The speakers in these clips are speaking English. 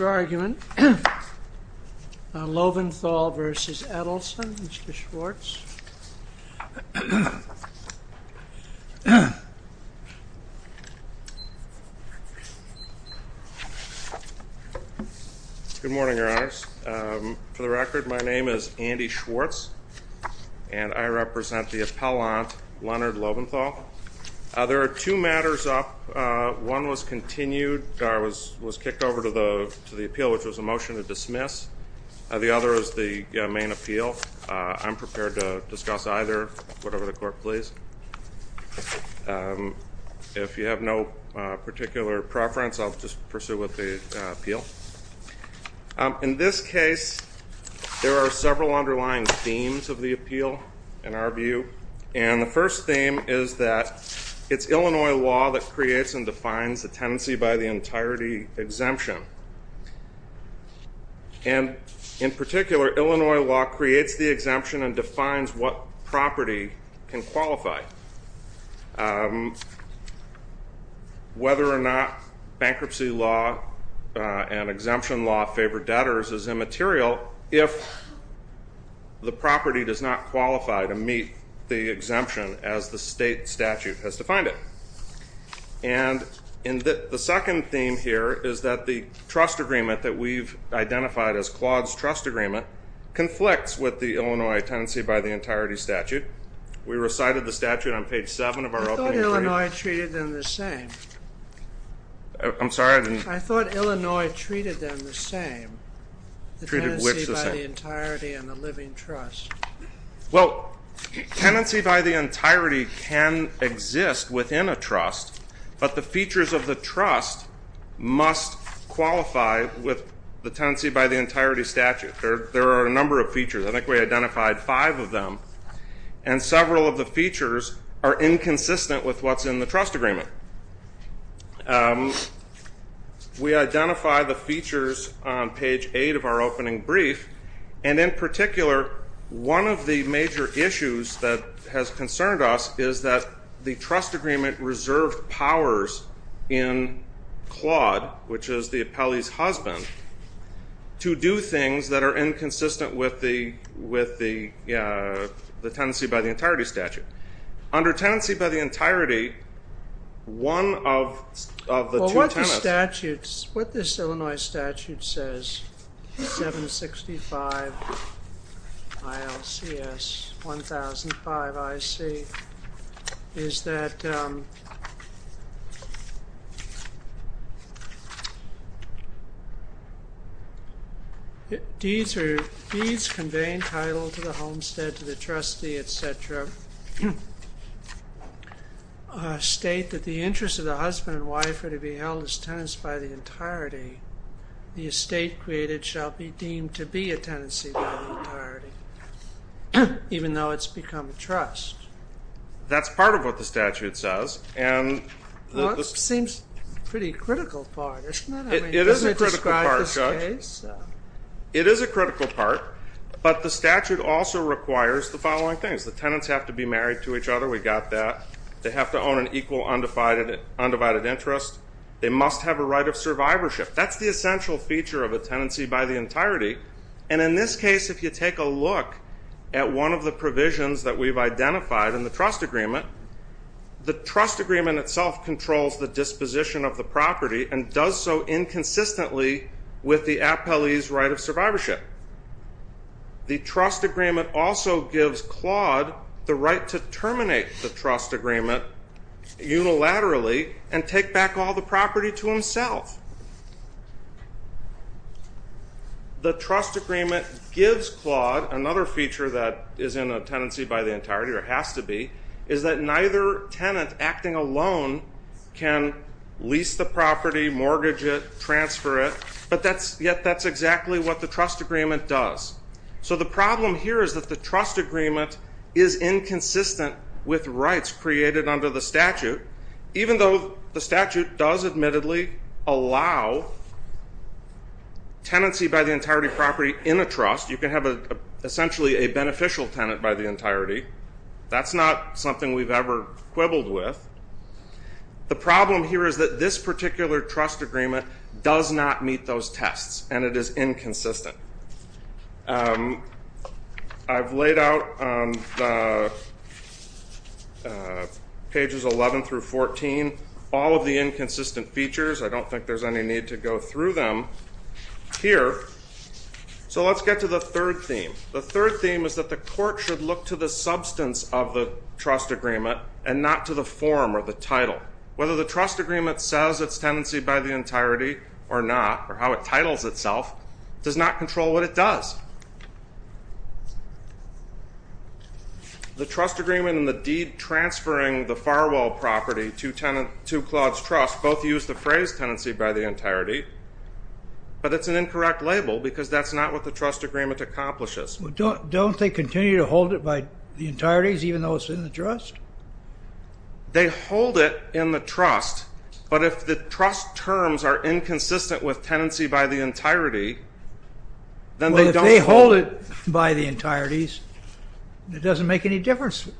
argument. Loventhal v. Edelson, Mr. Schwartz. Good morning, Your Honors. For the record, my name is Andy Schwartz and I represent the appellant, Leonard Loventhal. There are two matters up. One was continued, was kicked over to the appeal, which was a motion to dismiss. The other is the main appeal. I'm prepared to discuss either, whatever the court please. If you have no particular preference, I'll just pursue with the appeal. In this case, there are several underlying themes of the appeal, in our view. And the first theme is that it's Illinois law that creates and defines the tenancy by the entirety exemption. And in particular, Illinois law creates the exemption and defines what property can qualify. Whether or not bankruptcy law and exemption law favor debtors is immaterial if the property does not qualify to meet the exemption as the state statute has defined it. And in the second theme here is that the trust agreement that we've identified as Claude's trust agreement conflicts with the Illinois tenancy by the entirety statute. We recited the The tenancy by the entirety and the living trust. Well, tenancy by the entirety can exist within a trust, but the features of the trust must qualify with the tenancy by the entirety statute. There are a number of features. I think we identified five of them. And several of the features are inconsistent with what's in the trust agreement. We identify the features on page eight of our opening brief. And in particular, one of the major issues that has concerned us is that the trust agreement reserved powers in Claude, which is the appellee's husband, to do things that are inconsistent with the tenancy by the entirety statute. Under tenancy by the entirety, one of the two tenants... Well, what this Illinois statute says, 765 ILCS 1005 IC, is that deeds conveying title to the homestead, to the trustee, etc., state that the interest of the husband and wife are to be held as tenants by the entirety. The estate created shall be deemed to be a tenancy by the entirety, even though it's become a trust. That's part of what the statute says. Well, it seems a pretty critical part, doesn't it? It is a critical part, Judge. It is a critical part, but the statute also requires the following things. The tenants have to be married to each other. We got that. They have to own an equal undivided interest. They must have a right of survivorship. That's the essential feature of a tenancy by the entirety. And in this case, if you take a look at one of the provisions that we've identified, in the trust agreement, the trust agreement itself controls the disposition of the property and does so inconsistently with the appellee's right of survivorship. The trust agreement also gives Claude the right to terminate the trust agreement unilaterally and take back all the property to himself. The trust agreement gives Claude another feature that is in a tenancy by the entirety, or has to be, is that neither tenant acting alone can lease the property, mortgage it, transfer it, but yet that's exactly what the trust agreement does. So the problem here is that the trust agreement is inconsistent with rights created under the statute, even though the statute does admittedly allow tenancy by the entirety property in a trust. You can have essentially a beneficial tenant by the entirety. That's not something we've ever quibbled with. The problem here is that this particular trust agreement does not meet those tests, and it is inconsistent. I've laid out on pages 11 through 14 all of the inconsistent features. I don't think there's any need to go through them here. So let's get to the third theme. The third theme is that the court should look to the substance of the trust agreement and not to the form or the title. Whether the trust agreement says it's tenancy by the entirety or not, or how it titles itself, does not control what it does. The trust agreement and the deed transferring the farwell property to Claude's trust both use the phrase tenancy by the entirety, but it's an incorrect label because that's not what the trust agreement accomplishes. Don't they continue to hold it by the entireties even though it's in the trust? They hold it in the trust, but if the trust terms are inconsistent with tenancy by the entirety, then they don't hold it. If they hold it by the entireties, it doesn't make any difference.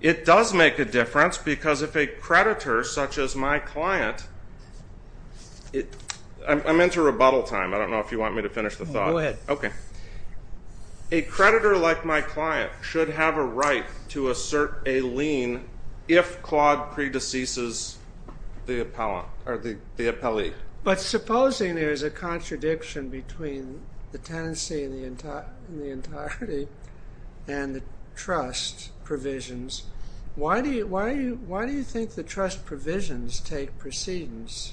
It does make a difference because if a creditor such as my client, I'm into rebuttal time. I don't know if you want me to finish the thought. Go ahead. A creditor like my client should have a right to assert a lien if Claude predeceases the appellee. But supposing there's a contradiction between the tenancy in the entirety and the trust provisions, why do you think the trust provisions take precedence?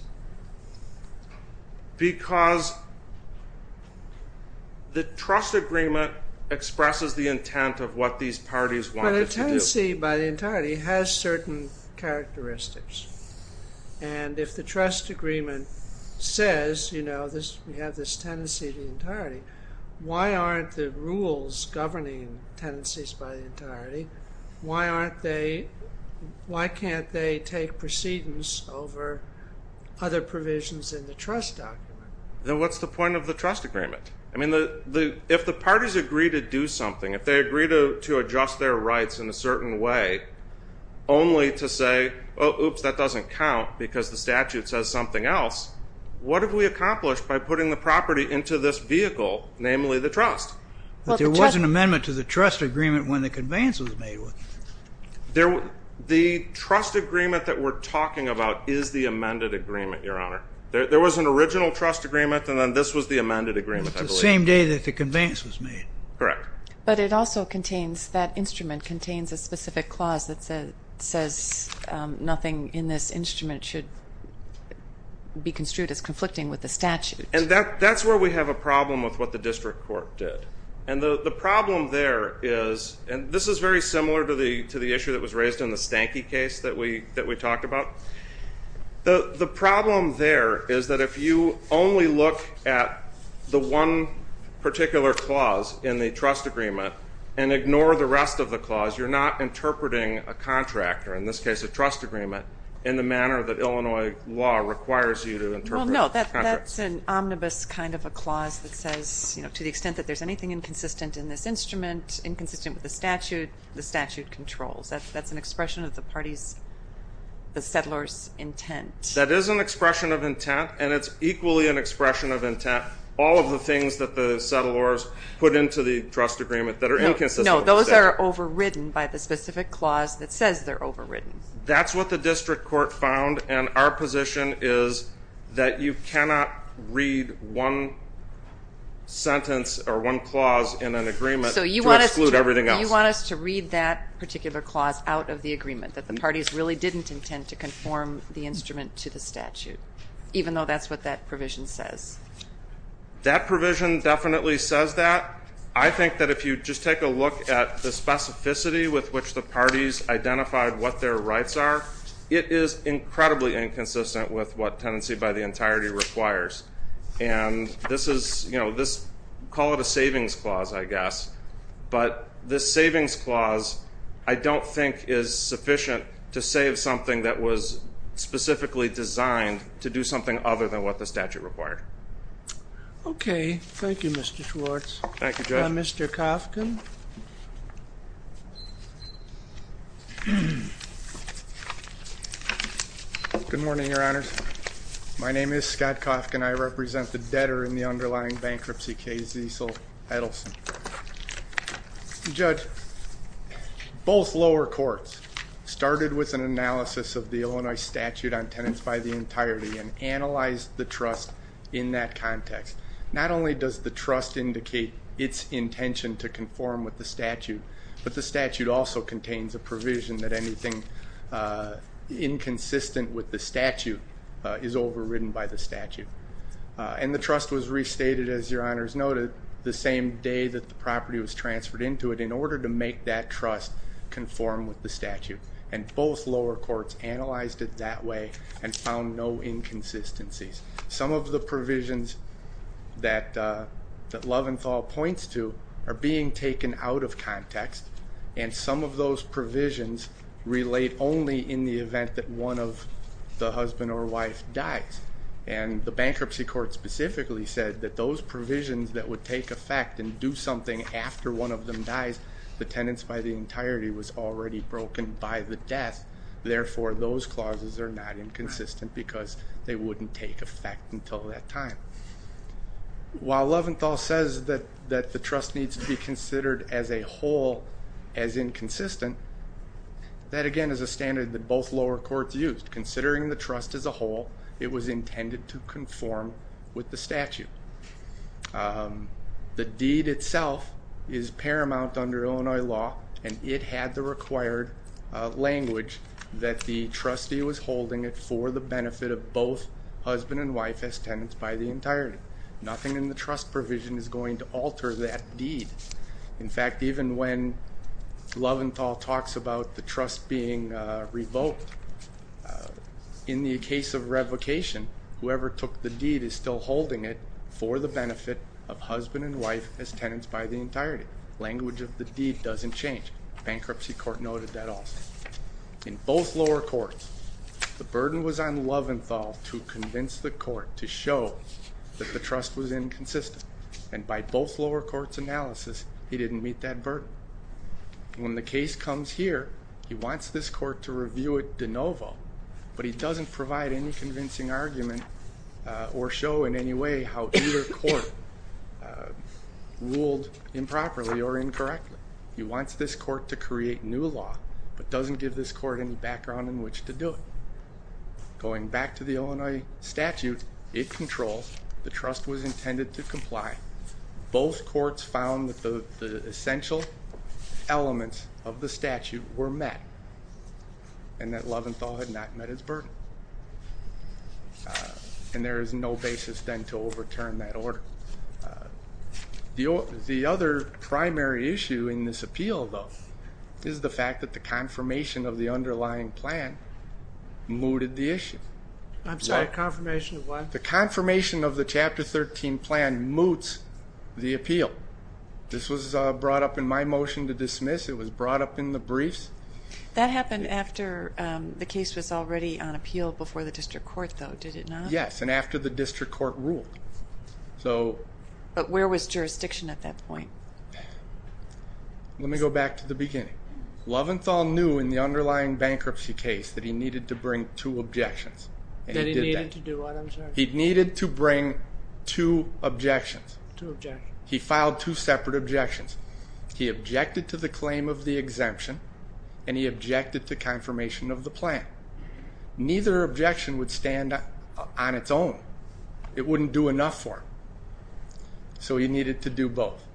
Because the trust agreement expresses the intent of what these parties wanted to do. But a tenancy by the entirety has certain characteristics. And if the trust agreement says, you know, we have this tenancy of the entirety, why aren't the rules governing tenancies by the entirety? Why can't they take precedence over other provisions in the trust document? Then what's the point of the trust agreement? If the parties agree to do something, if they agree to adjust their rights in a certain way, only to say, oops, that doesn't count because the statute says something else, what have we accomplished by putting the property into this vehicle, namely the trust? There was an amendment to the trust agreement when the conveyance was made. The trust agreement that we're talking about is the amended agreement, Your Honor. There was an original trust agreement, and then this was the amended agreement, I believe. It's the same day that the conveyance was made. Correct. But it also contains, that instrument contains a specific clause that says nothing in this instrument should be construed as conflicting with the statute. And that's where we have a problem with what the district court did. And the problem there is, and this is very similar to the issue that was raised in the Stanky case that we talked about. The problem there is that if you only look at the one particular clause in the trust agreement and ignore the rest of the clause, you're not interpreting a contract, or in this case a trust agreement, in the manner that Illinois law requires you to interpret contracts. Well, no, that's an omnibus kind of a clause that says to the extent that there's anything inconsistent in this instrument, inconsistent with the statute, the statute controls. That's an expression of the party's, the settler's intent. That is an expression of intent, and it's equally an expression of intent, all of the things that the settlers put into the trust agreement that are inconsistent. No, those are overridden by the specific clause that says they're overridden. That's what the district court found, and our position is that you cannot read one sentence or one clause in an agreement to exclude everything else. So you want us to read that particular clause out of the agreement, that the parties really didn't intend to conform the instrument to the statute, even though that's what that provision says? That provision definitely says that. I think that if you just take a look at the specificity with which the parties identified what their rights are, it is incredibly inconsistent with what tenancy by the entirety requires, and this is, you know, call it a savings clause, I guess, but this savings clause I don't think is sufficient to save something that was specifically designed to do something other than what the statute required. Okay. Thank you, Mr. Schwartz. Thank you, Judge. Mr. Kofkin. Good morning, Your Honors. My name is Scott Kofkin. I represent the debtor in the underlying bankruptcy case, Cecil Edelson. Judge, both lower courts started with an analysis of the Illinois statute on tenants by the entirety and analyzed the trust in that context. Not only does the trust indicate its intention to conform with the statute, but the statute also contains a provision that anything inconsistent with the statute is overridden by the statute. And the trust was restated, as Your Honors noted, the same day that the property was transferred into it, in order to make that trust conform with the statute. And both lower courts analyzed it that way and found no inconsistencies. Some of the provisions that Loventhal points to are being taken out of context, and some of those provisions relate only in the event that one of the husband or wife dies. And the bankruptcy court specifically said that those provisions that would take effect and do something after one of them dies, the tenants by the entirety was already broken by the death. Therefore, those clauses are not inconsistent because they wouldn't take effect until that time. While Loventhal says that the trust needs to be considered as a whole as inconsistent, that, again, is a standard that both lower courts used. Considering the trust as a whole, it was intended to conform with the statute. The deed itself is paramount under Illinois law, and it had the required language that the trustee was holding it for the benefit of both husband and wife as tenants by the entirety. Nothing in the trust provision is going to alter that deed. In fact, even when Loventhal talks about the trust being revoked, in the case of revocation, whoever took the deed is still holding it for the benefit of husband and wife as tenants by the entirety. Language of the deed doesn't change. Bankruptcy court noted that also. In both lower courts, the burden was on Loventhal to convince the court to show that the trust was inconsistent, and by both lower courts' analysis, he didn't meet that burden. When the case comes here, he wants this court to review it de novo, but he doesn't provide any convincing argument or show in any way how either court ruled improperly or incorrectly. He wants this court to create new law, but doesn't give this court any background in which to do it. Going back to the Illinois statute, it controls. The trust was intended to comply. Both courts found that the essential elements of the statute were met, and that Loventhal had not met his burden, and there is no basis then to overturn that order. The other primary issue in this appeal, though, is the fact that the confirmation of the underlying plan mooted the issue. I'm sorry, confirmation of what? The confirmation of the Chapter 13 plan moots the appeal. This was brought up in my motion to dismiss. It was brought up in the briefs. That happened after the case was already on appeal before the district court, though, did it not? Yes, and after the district court ruled. But where was jurisdiction at that point? Let me go back to the beginning. Loventhal knew in the underlying bankruptcy case that he needed to bring two objections. That he needed to do what, I'm sorry? He needed to bring two objections. Two objections. He filed two separate objections. He objected to the claim of the exemption, and he objected to confirmation of the plan. Neither objection would stand on its own. It wouldn't do enough for him, so he needed to do both.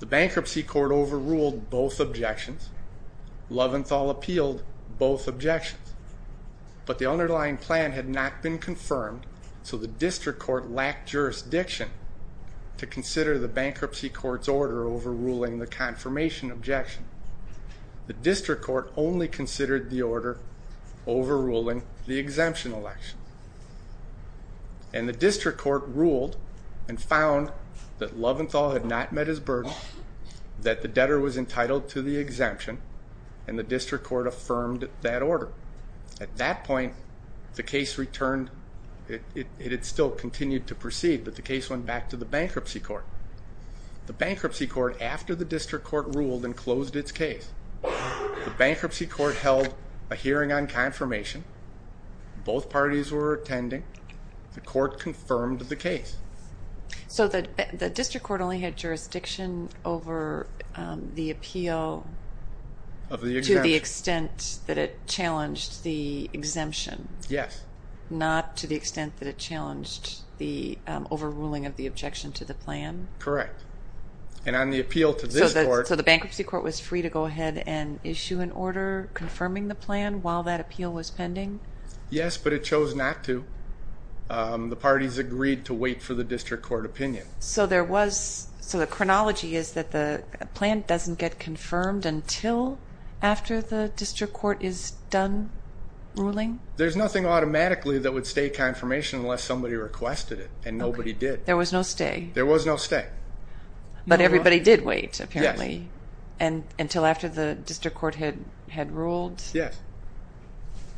The bankruptcy court overruled both objections. Loventhal appealed both objections. But the underlying plan had not been confirmed, so the district court lacked jurisdiction to consider the bankruptcy court's order overruling the confirmation objection. The district court only considered the order overruling the exemption election. And the district court ruled and found that Loventhal had not met his burden, that the debtor was entitled to the exemption, and the district court affirmed that order. At that point, the case returned. It had still continued to proceed, but the case went back to the bankruptcy court. The bankruptcy court, after the district court ruled and closed its case, the bankruptcy court held a hearing on confirmation. Both parties were attending. The court confirmed the case. So the district court only had jurisdiction over the appeal to the extent that it challenged the exemption? Yes. Not to the extent that it challenged the overruling of the objection to the plan? Correct. So the bankruptcy court was free to go ahead and issue an order confirming the plan while that appeal was pending? Yes, but it chose not to. The parties agreed to wait for the district court opinion. So the chronology is that the plan doesn't get confirmed until after the district court is done ruling? There's nothing automatically that would stay confirmation unless somebody requested it, and nobody did. There was no stay? There was no stay. But everybody did wait, apparently, until after the district court had ruled? Yes.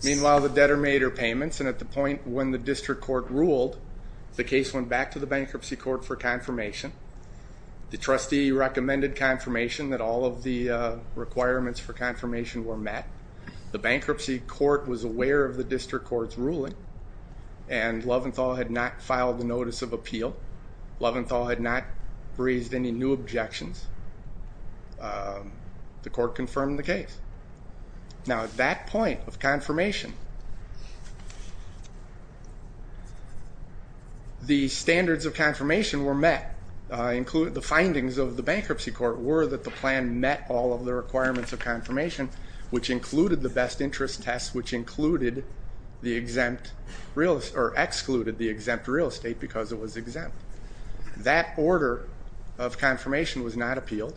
Meanwhile, the debtor made her payments, and at the point when the district court ruled, the case went back to the bankruptcy court for confirmation. The trustee recommended confirmation that all of the requirements for confirmation were met. The bankruptcy court was aware of the district court's ruling, and Loventhal had not filed a notice of appeal. Loventhal had not raised any new objections. The court confirmed the case. Now, at that point of confirmation, the standards of confirmation were met. The findings of the bankruptcy court were that the plan met all of the requirements of confirmation, which included the best interest test, which excluded the exempt real estate because it was exempt. That order of confirmation was not appealed.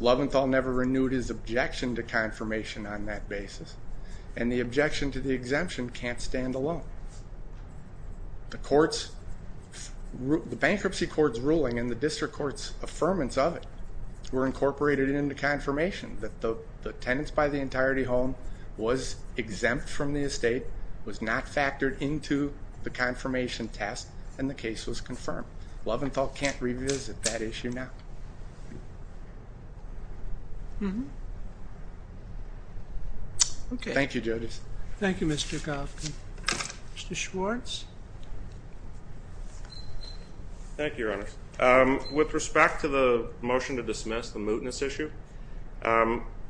Loventhal never renewed his objection to confirmation on that basis, and the objection to the exemption can't stand alone. The bankruptcy court's ruling and the district court's affirmance of it were incorporated into confirmation, that the tenants buy the entirety home, was exempt from the estate, was not factored into the confirmation test, and the case was confirmed. Loventhal can't revisit that issue now. Thank you, Jody. Thank you, Mr. Goffman. Mr. Schwartz. Thank you, Your Honors. With respect to the motion to dismiss the mootness issue,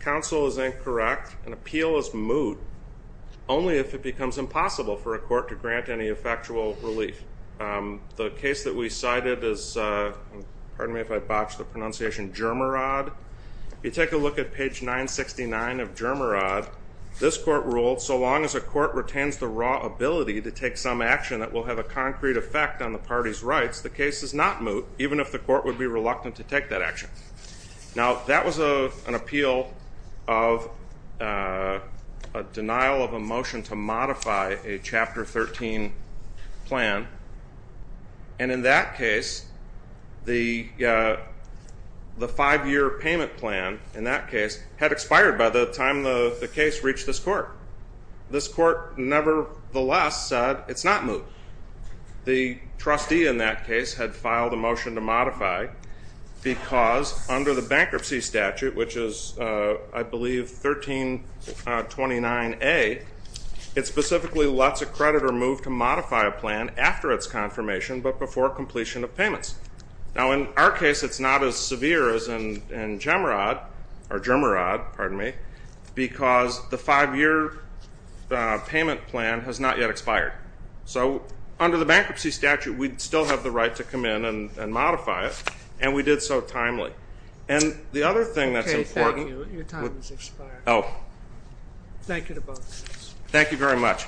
counsel is incorrect. An appeal is moot only if it becomes impossible for a court to grant any effectual relief. The case that we cited is, pardon me if I botch the pronunciation, Germerod. If you take a look at page 969 of Germerod, this court ruled, so long as a court retains the raw ability to take some action that will have a concrete effect on the party's rights, the case is not moot, even if the court would be reluctant to take that action. Now, that was an appeal of a denial of a motion to modify a Chapter 13 plan, and in that case, the five-year payment plan, in that case, had expired by the time the case reached this court. This court, nevertheless, said it's not moot. The trustee in that case had filed a motion to modify because, under the bankruptcy statute, which is, I believe, 1329A, it specifically lets a creditor move to modify a plan after its confirmation but before completion of payments. Now, in our case, it's not as severe as in Germerod because the five-year payment plan has not yet expired. So, under the bankruptcy statute, we'd still have the right to come in and modify it, and we did so timely. And the other thing that's important... Okay, thank you. Your time has expired. Oh. Thank you to both of you. Thank you very much.